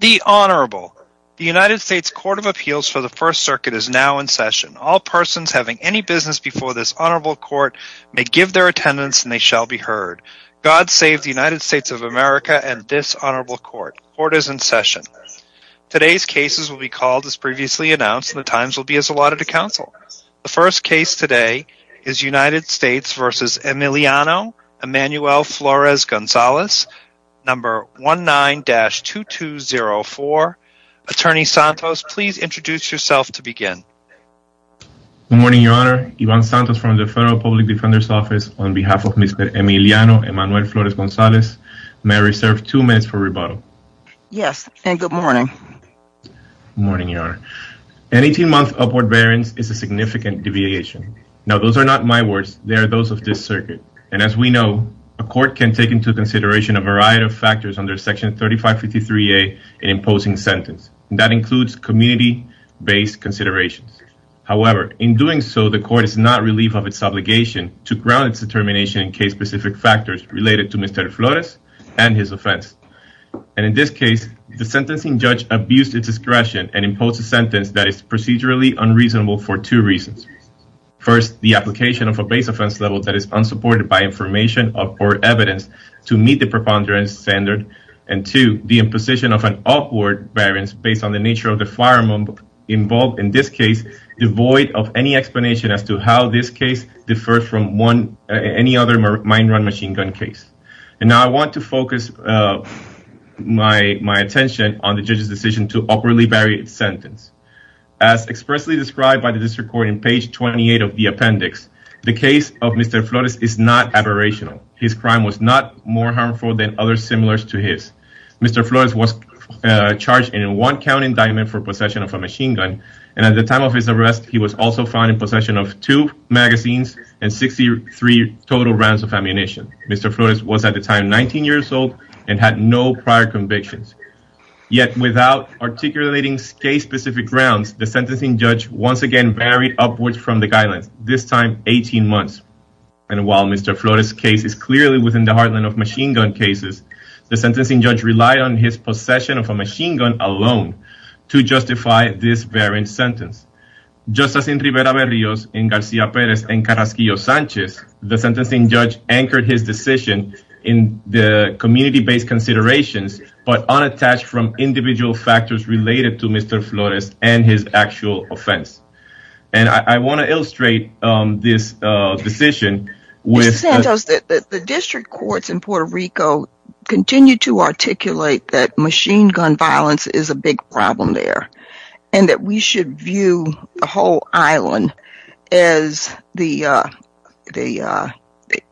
The Honorable. The United States Court of Appeals for the First Circuit is now in session. All persons having any business before this Honorable Court may give their attendance and they shall be heard. God save the United States of America and this Honorable Court. Court is in session. Today's cases will be called as previously announced and the times will be as allotted to counsel. The first case today is United States v. Emiliano Emanuel Flores-Gonzalez, number 19-2204. Attorney Santos, please introduce yourself to begin. Good morning, Your Honor. Ivan Santos from the Federal Public Defender's Office on behalf of Mr. Emiliano Emanuel Flores-Gonzalez. May I reserve two minutes for rebuttal? Yes, and good morning. Good morning, Your Honor. An 18-month upward variance is a significant deviation. Now those are not my words, they are those of this circuit. And as we know, a court can take into consideration a variety of factors under Section 3553A in imposing sentence. That includes community-based considerations. However, in doing so, the court is not relieved of its obligation to ground its determination in case-specific factors related to Mr. Flores and his offense. And in this case, the sentencing judge abused its discretion and imposed a application of a base offense level that is unsupported by information or evidence to meet the preponderance standard. And two, the imposition of an upward variance based on the nature of the firearm involved in this case, devoid of any explanation as to how this case differs from any other mine-run machine gun case. And now I want to focus my attention on the judge's decision to upwardly vary its sentence. As expressly described by the district court in page 28 of the appendix, the case of Mr. Flores is not aberrational. His crime was not more harmful than others similar to his. Mr. Flores was charged in a one-count indictment for possession of a machine gun, and at the time of his arrest, he was also found in possession of two magazines and 63 total rounds of ammunition. Mr. Flores was at the time 19 years old and had no prior convictions. Yet without articulating case-specific grounds, the sentencing judge once again varied upwards from the guidelines, this time 18 months. And while Mr. Flores' case is clearly within the heartland of machine gun cases, the sentencing judge relied on his possession of a machine gun alone to justify this variant sentence. Just as in Rivera Berrios, in Garcia Perez, and Carrasquillo Sanchez, the sentencing judge anchored his decision in the community-based considerations but unattached from individual factors related to Mr. Flores and his actual offense. And I want to illustrate this decision with... Mr. Santos, the district courts in Puerto Rico continue to articulate that machine gun violence is a big problem there, and that we should view the whole island as the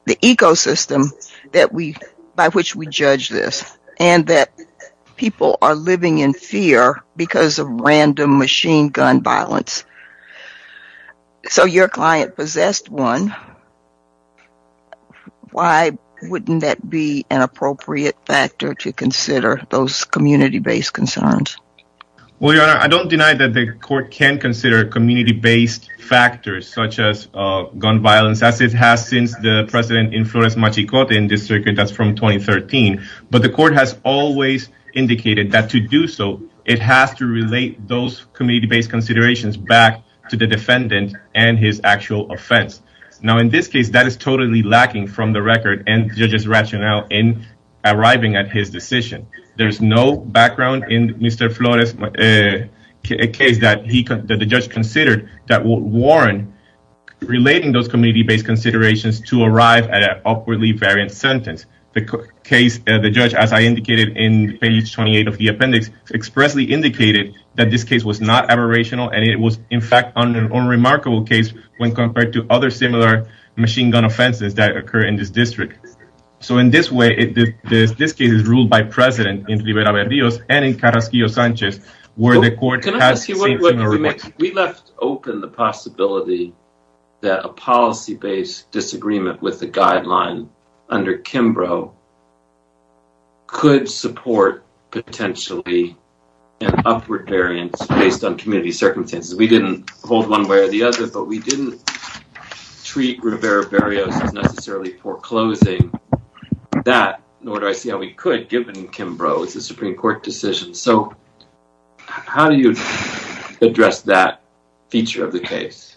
ecosystem by which we judge this, and that people are living in fear because of random machine gun violence. So your client possessed one. Why wouldn't that be an appropriate factor to consider those community-based concerns? Well, Your Honor, I don't deny that the court can consider community-based factors such as gun violence, as it has since the precedent in Flores-Machicote in this circuit that's from 2013. But the court has always indicated that to do so, it has to relate those community-based considerations back to the defendant and his actual offense. Now, in this case, that is totally lacking from the record and the judge's rationale in arriving at his decision. There's no background in Mr. Flores' case that the judge considered that would warrant relating those community-based considerations to arrive at an awkwardly variant sentence. The judge, as I indicated in page 28 of the appendix, expressly indicated that this case was not aberrational and it was, in fact, an unremarkable case when compared to other similar machine gun offenses that occur in this district. So in this way, this case is ruled by precedent in Rivera-Berrios and in Carrasquillo-Sanchez, where the court has the same remarks. We left open the possibility that a policy-based disagreement with the guideline under Kimbrough could support, potentially, an upward variance based on community circumstances. We didn't hold one way or the other, but we didn't treat Rivera-Berrios as necessarily foreclosing that, nor do I see how we could, given Kimbrough's Supreme Court decision. So, how do you address that feature of the case?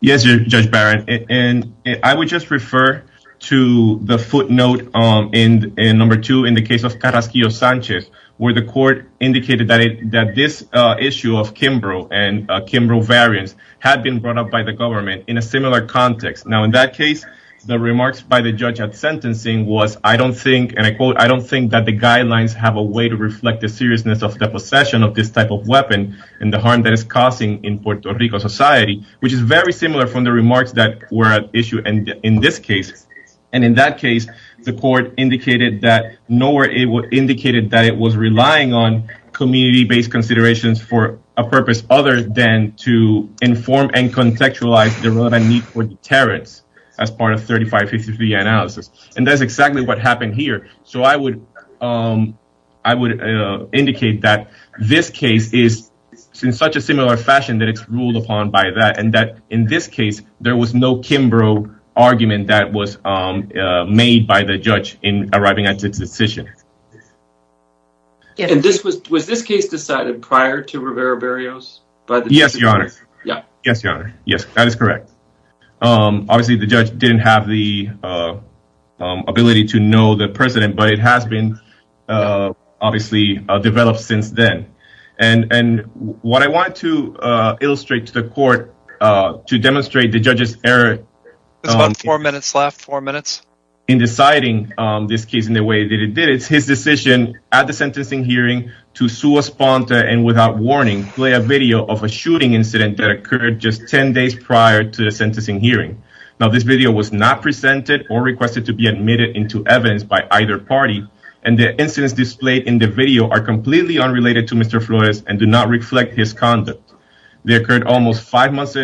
Yes, Judge Barron, and I would just refer to the footnote in number two in the case of Carrasquillo-Sanchez, where the court indicated that this issue of Kimbrough and Kimbrough variance had been brought up by the government in a similar context. Now, in that case, the remarks by the judge at sentencing was, I don't think, and I quote, I don't think that the guidelines have a way to reflect the seriousness of the possession of this type of weapon and the harm that it's causing in Puerto Rico society, which is very similar from the remarks that were at issue in this case. And in that case, the court indicated that, nor indicated that it was relying on community-based considerations for a purpose other than to inform and contextualize the relevant need for deterrence as part of 3553 analysis. And that's exactly what happened here. So, I would indicate that this case is in such a similar fashion that it's ruled upon by that, and that in this case, there was no Kimbrough argument that was made by the judge in arriving at this decision. And this was, was this case decided prior to Rivera Berrios? Yes, your honor. Yes, your honor. Yes, that is correct. Obviously, the judge didn't have the ability to know the precedent, but it has been obviously developed since then. And what I want to illustrate to the court to demonstrate the judge's error in deciding on this case in the way that it did, it's his decision at the sentencing hearing to sue a sponsor and without warning, play a video of a shooting incident that occurred just 10 days prior to the sentencing hearing. Now, this video was not presented or requested to be admitted into evidence by either party. And the incidents displayed in the video are completely unrelated to Mr. Flores and do not reflect his conduct. They occurred almost five months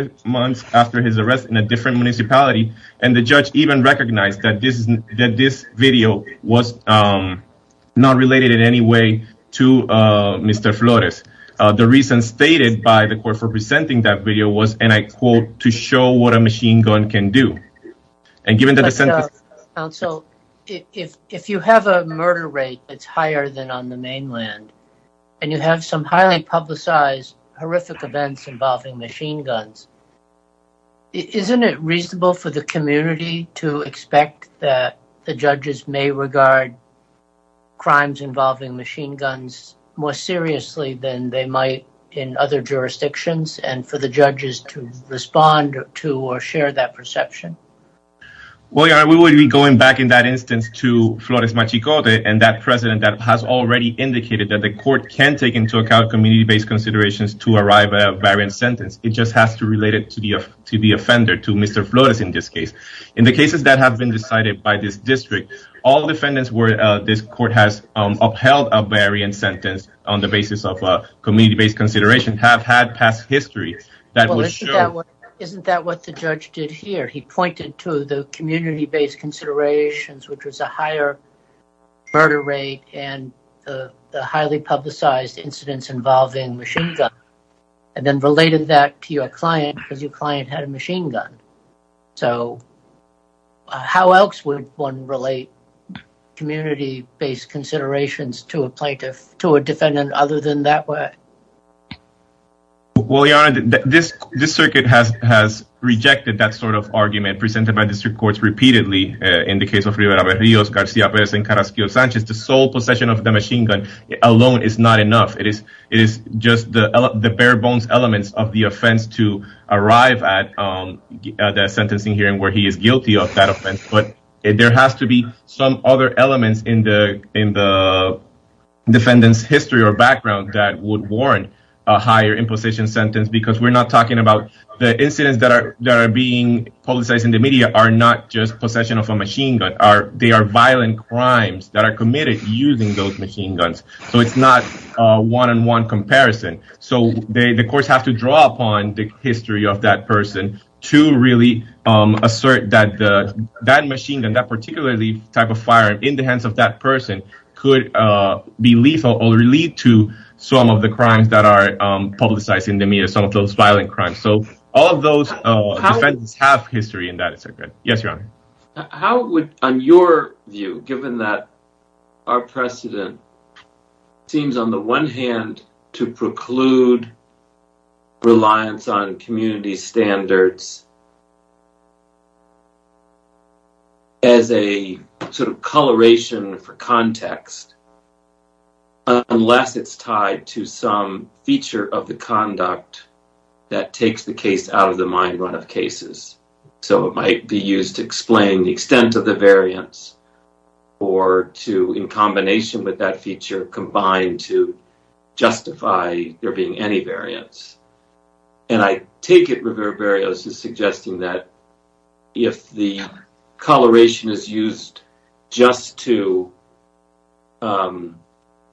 after his arrest in a different municipality. And the judge even recognized that this video was not related in any way to Mr. Flores. The reason stated by the court for presenting that video was, and I quote, to show what a machine gun can do. And given that the sentence- Counsel, if you have a murder rate that's higher than on the mainland and you have some highly publicized horrific events involving machine guns, isn't it reasonable for the court to expect that the judges may regard crimes involving machine guns more seriously than they might in other jurisdictions and for the judges to respond to or share that perception? Well, yeah, we will be going back in that instance to Flores Machicote and that president that has already indicated that the court can take into account community-based considerations to arrive at a variant sentence. It just has to relate it to the offender, to Mr. Flores in this case. In the cases that have been decided by this district, all defendants where this court has upheld a variant sentence on the basis of community-based consideration have had past history that will show- Isn't that what the judge did here? He pointed to the community-based considerations, which was a higher murder rate and the highly publicized incidents involving machine gun and then related that to your client because your client had a machine gun. So how else would one relate community-based considerations to a plaintiff, to a defendant other than that way? Well, Your Honor, this circuit has rejected that sort of argument presented by district courts repeatedly in the case of Rivera Berrios, Garcia Perez, and Carrasquillo Sanchez. The sole possession of the machine gun alone is not enough. It is just the bare bones elements of the offense to arrive at the sentencing hearing where he is guilty of that offense. But there has to be some other elements in the defendant's history or background that would warrant a higher imposition sentence because we're not talking about the incidents that are being publicized in the media are not just possession of a machine gun. They are violent crimes that are committed using those machine guns. So it's not a one-on-one comparison. So the courts have to draw upon the history of that person to really assert that that machine gun, that particularly type of firearm in the hands of that person could be lethal or lead to some of the crimes that are publicized in the media, some of those violent crimes. So all of those defendants have history in that circuit. Yes, Your Honor. How would, on your view, given that our precedent seems on the one hand to preclude reliance on community standards as a sort of coloration for context, unless it's tied to some feature of the conduct that takes the case out of the mind run of cases. So it might be used to explain the extent of the variance or to, in combination with that feature, combine to justify there being any variance. And I take it Rivera-Barrios is suggesting that if the coloration is used just to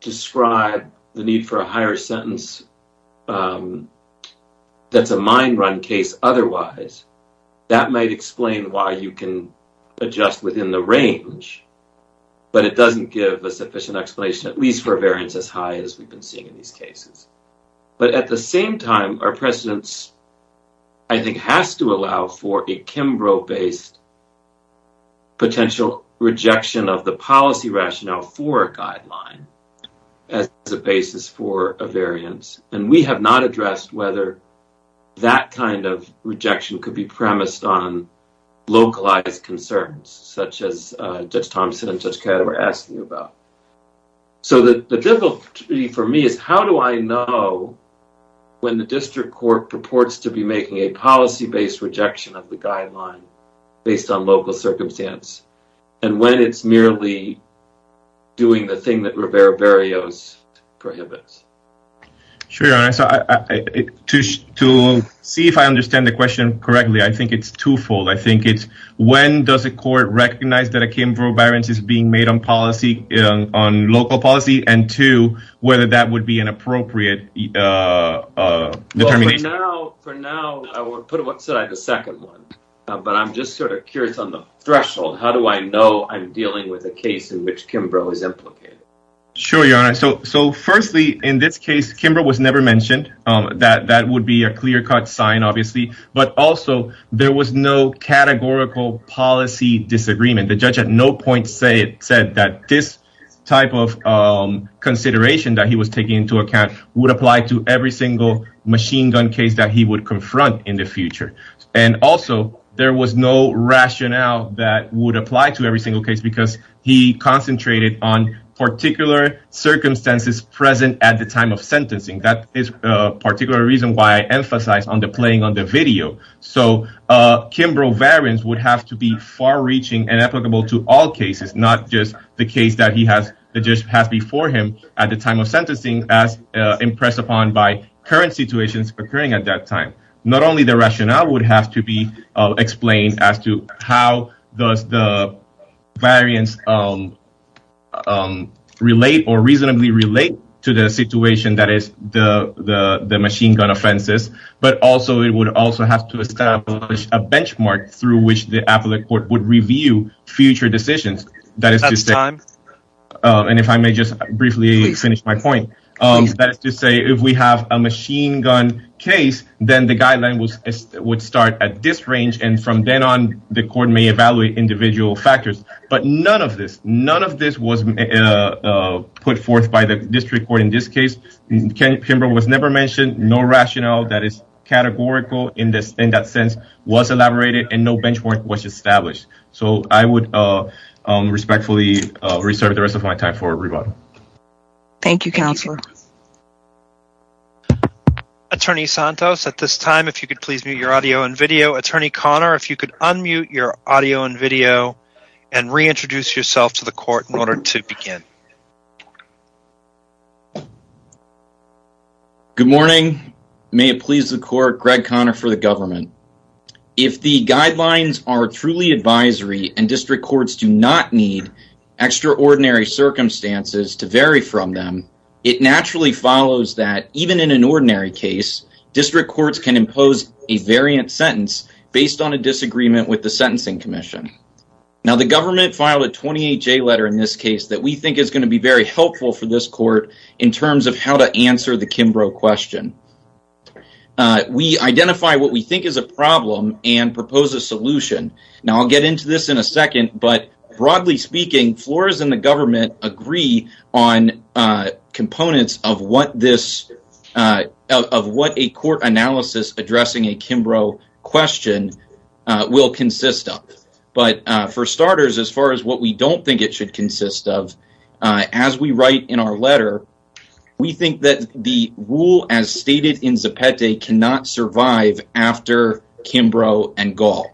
describe the need for a higher sentence that's a mind run case. Otherwise, that might explain why you can adjust within the range, but it doesn't give a sufficient explanation, at least for variance as high as we've been seeing in these cases. But at the same time, our precedents, I think, has to allow for a Kimbrough-based potential rejection of the policy rationale for a guideline as a basis for a variance. We have not addressed whether that kind of rejection could be premised on localized concerns, such as Judge Thompson and Judge Caddo were asking about. So the difficulty for me is how do I know when the district court purports to be making a policy-based rejection of the guideline based on local circumstance and when it's merely doing the thing that Rivera-Barrios prohibits. Sure, Your Honor. So to see if I understand the question correctly, I think it's twofold. I think it's when does a court recognize that a Kimbrough-Barrios is being made on policy, on local policy, and two, whether that would be an appropriate determination. Well, for now, I would put it outside the second one, but I'm just sort of curious on the threshold. How do I know I'm dealing with a case in which Kimbrough is implicated? Sure, Your Honor. So firstly, in this case, Kimbrough was never mentioned. That would be a clear-cut sign, obviously. But also, there was no categorical policy disagreement. The judge at no point said that this type of consideration that he was taking into account would apply to every single machine gun case that he would confront in the future. And also, there was no rationale that would apply to every single case because he concentrated on particular circumstances present at the time of sentencing. That is a particular reason why I emphasize on the playing on the video. So Kimbrough-Barrios would have to be far-reaching and applicable to all cases, not just the case that the judge has before him at the time of sentencing as impressed upon by current situations occurring at that time. Not only the rationale would have to be explained as to how does the variance relate or reasonably relate to the situation that is the machine gun offenses, but also, it would also have to establish a benchmark through which the appellate court would review future decisions. That is to say, and if I may just briefly finish my point, that is to say, if we have a machine gun case, then the guideline would start at this range, and from then on, the court may evaluate individual factors. But none of this was put forth by the district court in this case. Kimbrough was never mentioned. No rationale that is categorical in that sense was elaborated, and no benchmark was established. So I would respectfully reserve the rest of my time for rebuttal. Thank you, Counselor. Attorney Santos, at this time, if you could please mute your audio and video. Attorney Conner, if you could unmute your audio and video and reintroduce yourself to the court in order to begin. Good morning. May it please the court, Greg Conner for the government. If the guidelines are to vary from them, it naturally follows that even in an ordinary case, district courts can impose a variant sentence based on a disagreement with the Sentencing Commission. Now, the government filed a 28-J letter in this case that we think is going to be very helpful for this court in terms of how to answer the Kimbrough question. We identify what we think is a problem and propose a solution. Now, I'll get into this in a second, but broadly speaking, floors in the government on components of what a court analysis addressing a Kimbrough question will consist of. But for starters, as far as what we don't think it should consist of, as we write in our letter, we think that the rule as stated in Zapete cannot survive after Kimbrough and Gall.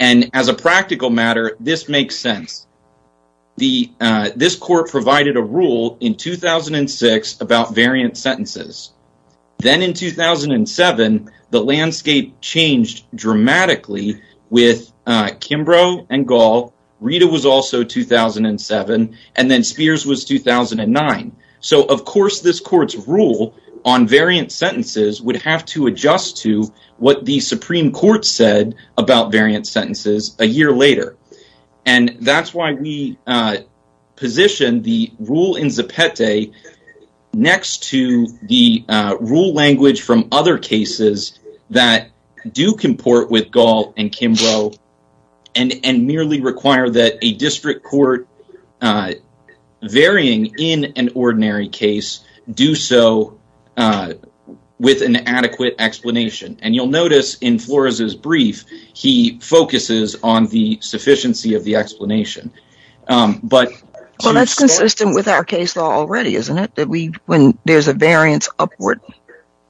And as a practical matter, this makes sense. This court provided a rule in 2006 about variant sentences. Then in 2007, the landscape changed dramatically with Kimbrough and Gall. Rita was also 2007, and then Spears was 2009. So, of course, this court's rule on variant sentences would have to adjust to what the Supreme Court said about variant sentences a year later. And that's why we positioned the rule in Zapete next to the rule language from other cases that do comport with Gall and Kimbrough and merely require that a district court varying in an ordinary case do so with an adequate explanation. And you'll notice in Flores' brief, he focuses on the sufficiency of the explanation. Well, that's consistent with our case law already, isn't it? That when there's a variance upward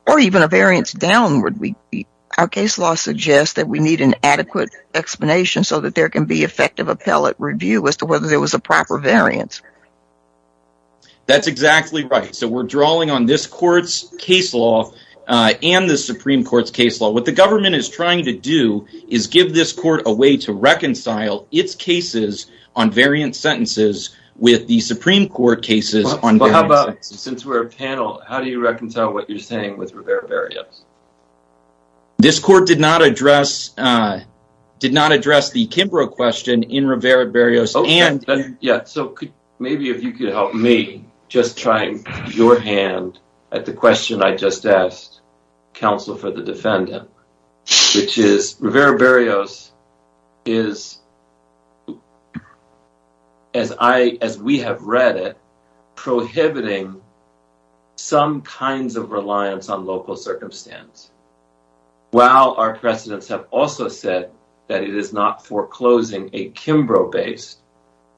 or even a variance downward, our case law suggests that we need an adequate explanation so that there can be effective appellate review as to whether there was a proper variance. That's exactly right. So, we're drawing on this court's case law and the Supreme Court's case law. What the government is trying to do is give this court a way to reconcile its cases on variant sentences with the Supreme Court cases on variant sentences. Since we're a panel, how do you not address the Kimbrough question in Rivera-Barrios? Yeah, so maybe if you could help me just try your hand at the question I just asked, counsel for the defendant, which is Rivera-Barrios is, as we have read it, prohibiting some kinds of reliance on local circumstance while our precedents have also said that it is not foreclosing a Kimbrough-based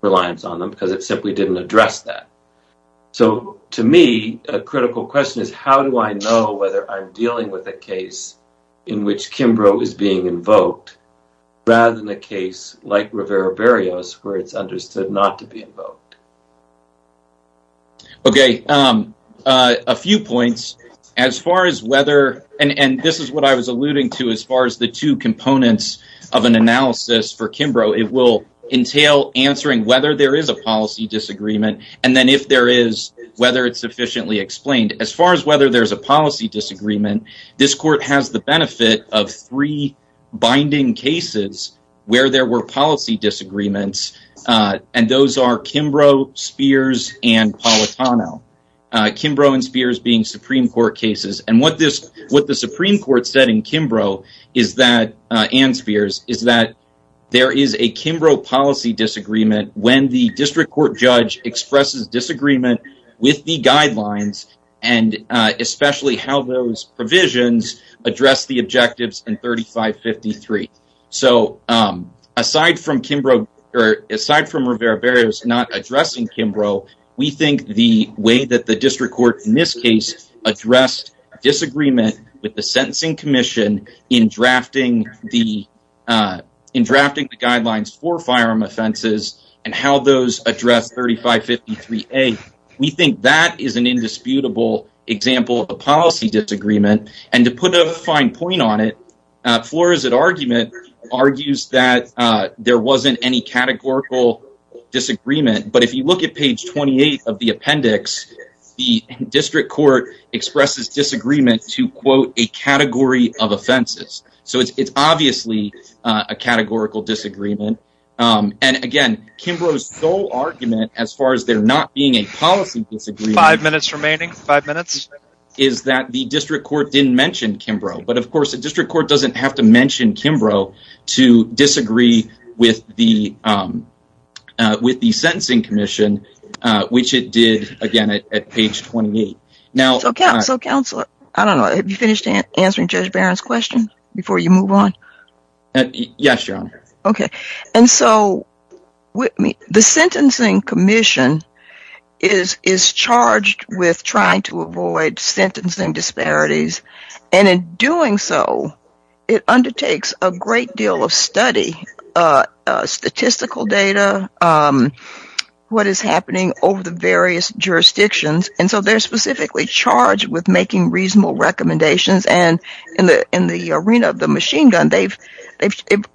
reliance on them because it simply didn't address that. So, to me, a critical question is how do I know whether I'm dealing with a case in which Kimbrough is being invoked rather than a case like Rivera-Barrios where it's understood not to be invoked? Okay, a few points. As far as whether, and this is what I was alluding to as far as the two components of an analysis for Kimbrough, it will entail answering whether there is a policy disagreement and then if there is, whether it's sufficiently explained. As far as whether there's a policy disagreement, this court has the benefit of three binding cases where there were policy disagreements and those are Kimbrough, Spears, and Politano. Kimbrough and Spears being Supreme Court cases and what the Supreme Court said in Kimbrough and Spears is that there is a Kimbrough policy disagreement when the district court judge expresses disagreement with the guidelines and especially how those provisions address the objectives in 3553. So, aside from Kimbrough, or aside from Rivera-Barrios not addressing Kimbrough, we think the way that the district court in this case addressed disagreement with the sentencing commission in drafting the guidelines for firearm offenses and how those address 3553A, we think that is an indisputable example of a policy disagreement and to put a fine point on it, Flores' argument argues that there wasn't any categorical disagreement but if you look at page 28 of the appendix, the district court expresses disagreement to quote a category of offenses. So, it's obviously a categorical disagreement and again, Kimbrough's sole argument as far as not being a policy disagreement is that the district court didn't mention Kimbrough but of course the district court doesn't have to mention Kimbrough to disagree with the sentencing commission which it did again at page 28. So, counselor, I don't know, have you finished answering Judge Barron's question before you move on? Yes, your honor. Okay, and so the sentencing commission is charged with trying to avoid sentencing disparities and in doing so, it undertakes a great deal of study, statistical data, what is happening over the various jurisdictions and so they're specifically charged with making reasonable recommendations and in the arena of the machine gun, they've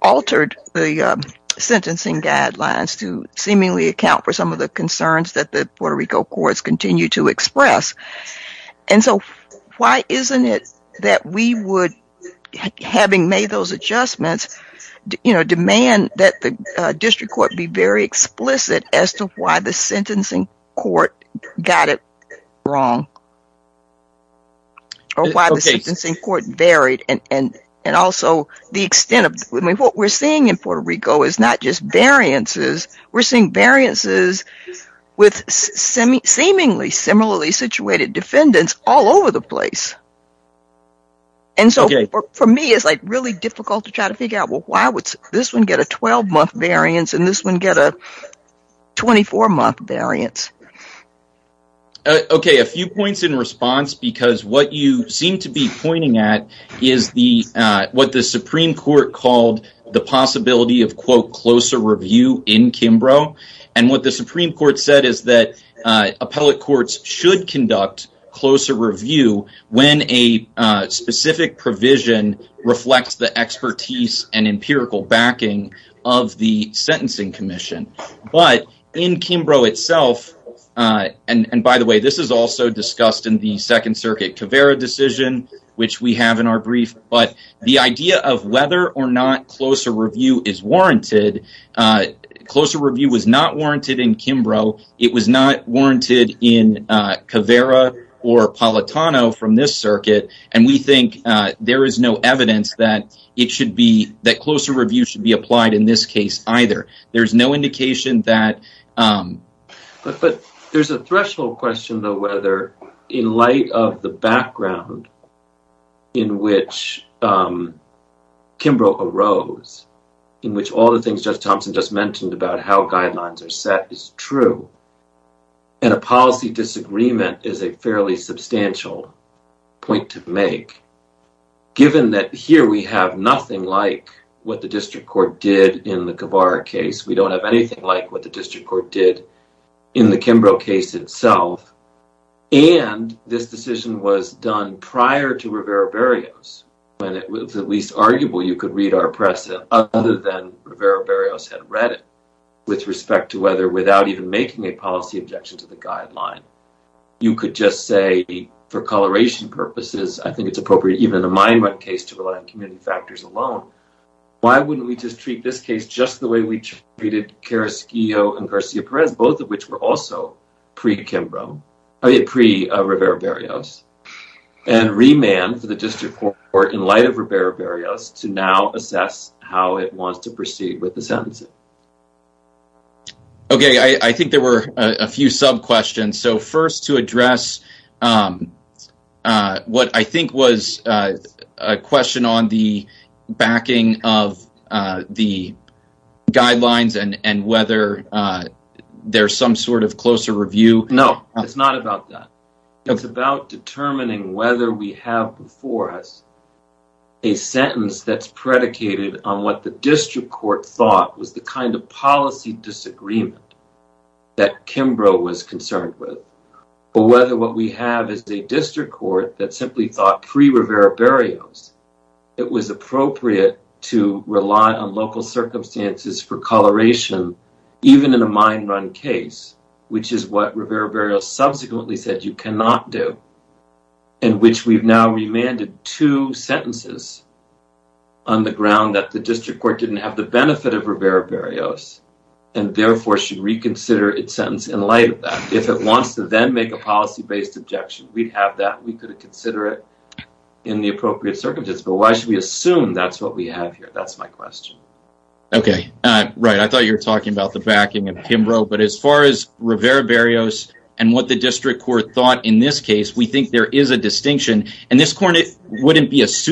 altered the sentencing guidelines to seemingly account for some of the concerns that the Puerto Rico courts continue to express and so why isn't it that we would, having made those adjustments, demand that the district court be very explicit as to why the sentencing court got it wrong or why the sentencing court varied and also the extent of, I mean, what we're seeing in Puerto Rico is not just variances, we're seeing variances with seemingly similarly situated defendants all over the place and so for me, it's like really difficult to try to figure out, well, why would this one get a 12-month variance and this one get a 24-month variance? Okay, a few points in response because what you seem to be pointing at is what the Supreme Court called the possibility of, quote, closer review in Kimbrough and what the Supreme Court said is that appellate courts should conduct closer review when a specific provision reflects the expertise and empirical backing of the sentencing commission, but in Kimbrough itself, and by the way, this is also discussed in the Second Circuit Caveira decision, which we have in our brief, but the idea of whether or not closer review is warranted, closer review was not warranted in Kimbrough, it was not warranted in Caveira or Palitano from this circuit and we think there is no evidence that it should be, that closer review should be applied in this case either. There's no indication that... But there's a threshold question though, whether in light of the background in which Kimbrough arose, in which all the things Judge Thompson just mentioned about how guidelines are set is true and a policy disagreement is a point to make, given that here we have nothing like what the District Court did in the Caveira case, we don't have anything like what the District Court did in the Kimbrough case itself, and this decision was done prior to Rivera-Barrios, when it was at least arguable you could read our press other than Rivera-Barrios had read it, with respect to whether without even making a policy objection to the guideline, you could just say for coloration purposes, I think it's appropriate even in a mine run case to rely on community factors alone, why wouldn't we just treat this case just the way we treated Carrasquillo and Garcia Perez, both of which were also pre-Kimbrough, I mean pre-Rivera-Barrios, and remand for the District Court in light of Rivera-Barrios to now So first to address what I think was a question on the backing of the guidelines and whether there's some sort of closer review. No, it's not about that, it's about determining whether we have before us a sentence that's predicated on what the District Court thought was the kind of policy disagreement that Kimbrough was concerned with, or whether what we have is a District Court that simply thought pre-Rivera-Barrios, it was appropriate to rely on local circumstances for coloration even in a mine run case, which is what Rivera-Barrios subsequently said you cannot do, in which we've now remanded two sentences on the ground that the District Court didn't have benefit of Rivera-Barrios and therefore should reconsider its sentence in light of that. If it wants to then make a policy-based objection, we'd have that, we could consider it in the appropriate circumstances, but why should we assume that's what we have here? That's my question. Okay, right, I thought you were talking about the backing of Kimbrough, but as far as Rivera-Barrios and what the District Court thought in this case, we think there is a distinction, and this court wouldn't be its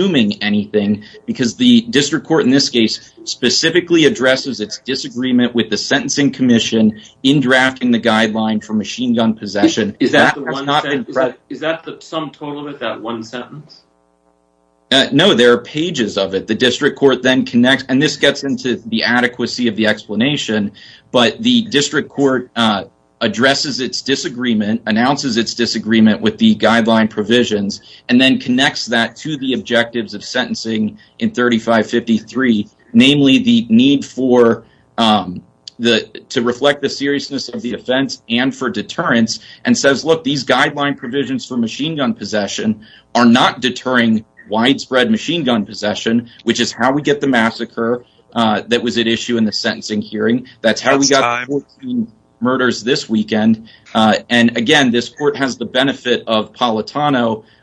disagreement with the Sentencing Commission in drafting the guideline for machine gun possession. Is that the sum total of it, that one sentence? No, there are pages of it. The District Court then connects, and this gets into the adequacy of the explanation, but the District Court addresses its disagreement, announces its disagreement with the guideline provisions, and then connects that to the objectives of sentencing in 3553, namely the need for to reflect the seriousness of the offense and for deterrence, and says, look, these guideline provisions for machine gun possession are not deterring widespread machine gun possession, which is how we get the massacre that was at issue in the sentencing hearing. That's how we got 14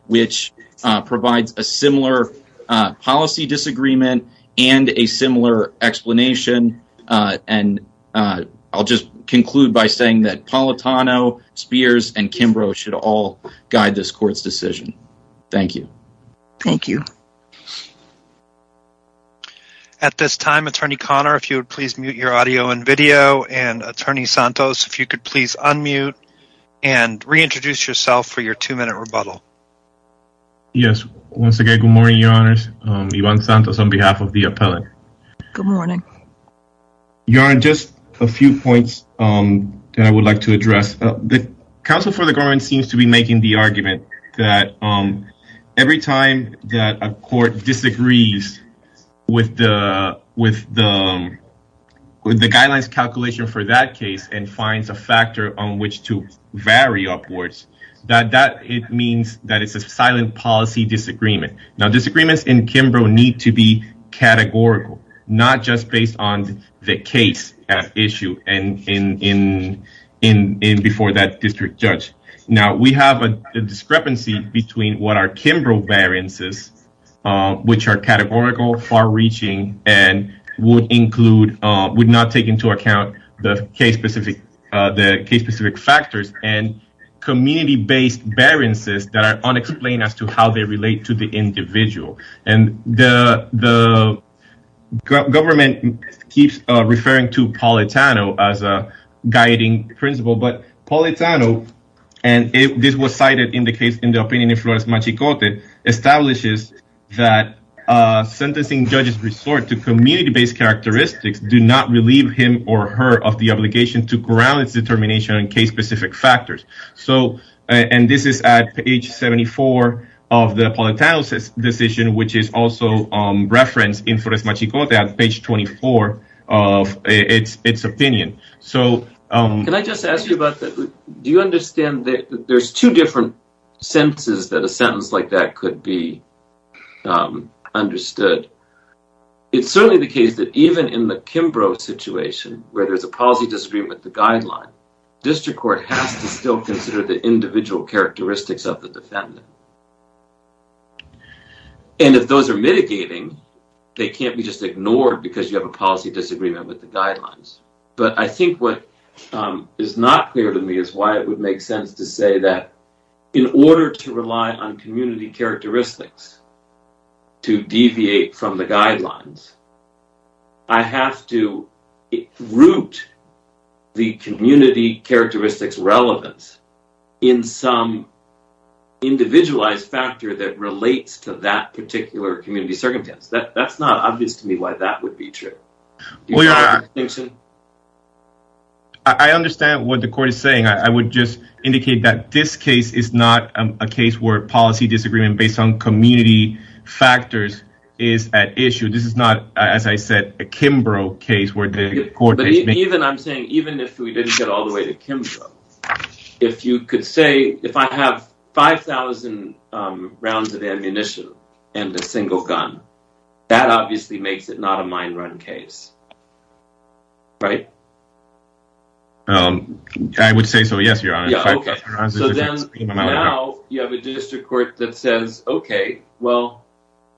which provides a similar policy disagreement and a similar explanation, and I'll just conclude by saying that Politano, Spears, and Kimbrough should all guide this court's decision. Thank you. Thank you. At this time, Attorney Connor, if you would please mute your audio and video, and Attorney Santos, if you could please unmute and reintroduce yourself for your two-minute rebuttal. Yes, once again, good morning, Your Honors. Ivan Santos on behalf of the appellate. Good morning. Your Honor, just a few points that I would like to address. The Council for the Government seems to be making the argument that every time that a court disagrees with the guidelines calculation for that case and finds a factor on which to silent policy disagreement. Now, disagreements in Kimbrough need to be categorical, not just based on the case at issue before that district judge. Now, we have a discrepancy between what are Kimbrough variances, which are categorical, far-reaching, and would not take into as to how they relate to the individual. And the government keeps referring to Politano as a guiding principle, but Politano, and this was cited in the case in the opinion of Flores Machicote, establishes that sentencing judges' resort to community-based characteristics do not relieve him or her of the obligation to ground its determination on case-specific factors. So, and this is at page 74 of the Politano's decision, which is also referenced in Flores Machicote on page 24 of its opinion. Can I just ask you about that? Do you understand that there's two different sentences that a sentence like that could be understood? It's certainly the case that even in the Kimbrough situation, where there's a policy disagreement with the guideline, district court has to still consider the individual characteristics of the defendant. And if those are mitigating, they can't be just ignored because you have a policy disagreement with the guidelines. But I think what is not clear to me is why it would make sense to say that in order to rely on community characteristics to deviate from the guidelines, I have to root the community characteristics' relevance in some individualized factor that relates to that particular community circumstance. That's not obvious to me why that would be true. I understand what the court is saying. I would just indicate that this case is not a case where policy disagreement based on community factors is at issue. This is not, as I said, a Kimbrough case. I'm saying even if we didn't get all the way to Kimbrough, if you could say, if I have 5,000 rounds of ammunition and a single gun, that obviously makes it not a mine run case. Right? I would say so, yes, your honor. Now you have a district court that says, okay, well,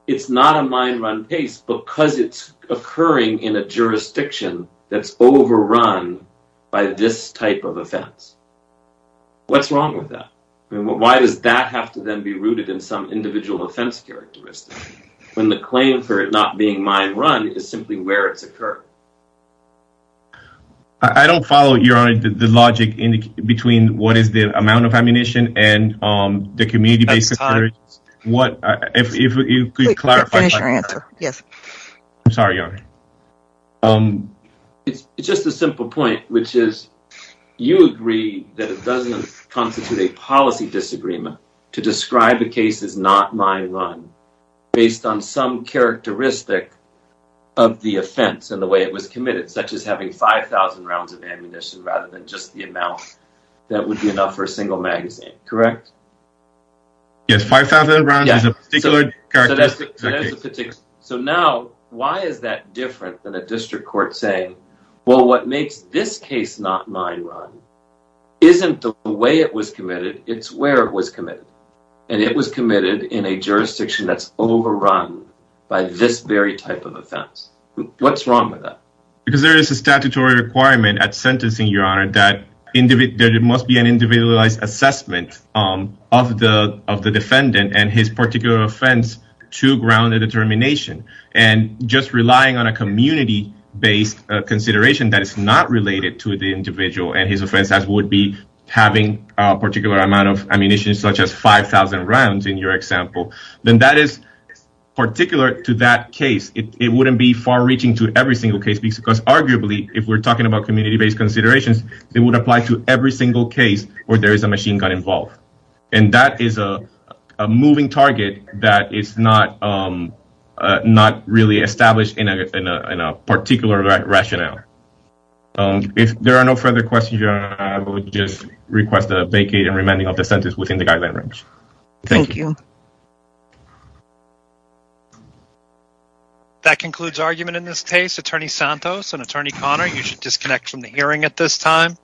it's not a mine run case because it's a jurisdiction that's overrun by this type of offense. What's wrong with that? Why does that have to then be rooted in some individual offense characteristic when the claim for it not being mine run is simply where it's occurred? I don't follow, your honor, the logic between what is the amount of ammunition and the community-based. What, if you could clarify. Yes. Sorry, your honor. It's just a simple point, which is you agree that it doesn't constitute a policy disagreement to describe a case as not mine run based on some characteristic of the offense and the way it was committed, such as having 5,000 rounds of ammunition rather than just the amount that would be enough for a single magazine, correct? Yes, 5,000 rounds is a particular characteristic. So now why is that different than a district court saying, well, what makes this case not mine run isn't the way it was committed, it's where it was committed, and it was committed in a jurisdiction that's overrun by this very type of offense. What's wrong with that? Because there is a individualized assessment of the defendant and his particular offense to ground the determination and just relying on a community-based consideration that is not related to the individual and his offense as would be having a particular amount of ammunition, such as 5,000 rounds in your example, then that is particular to that case. It wouldn't be far-reaching to every single case because arguably, if we're talking about community-based considerations, it would apply to every single case where there is a machine gun involved. And that is a moving target that is not really established in a particular rationale. If there are no further questions, I would just request a vacate and remanding of the sentence within the guideline range. Thank you. That concludes argument in this case. Attorney Santos and Attorney Conner, you should disconnect from the hearing at this time.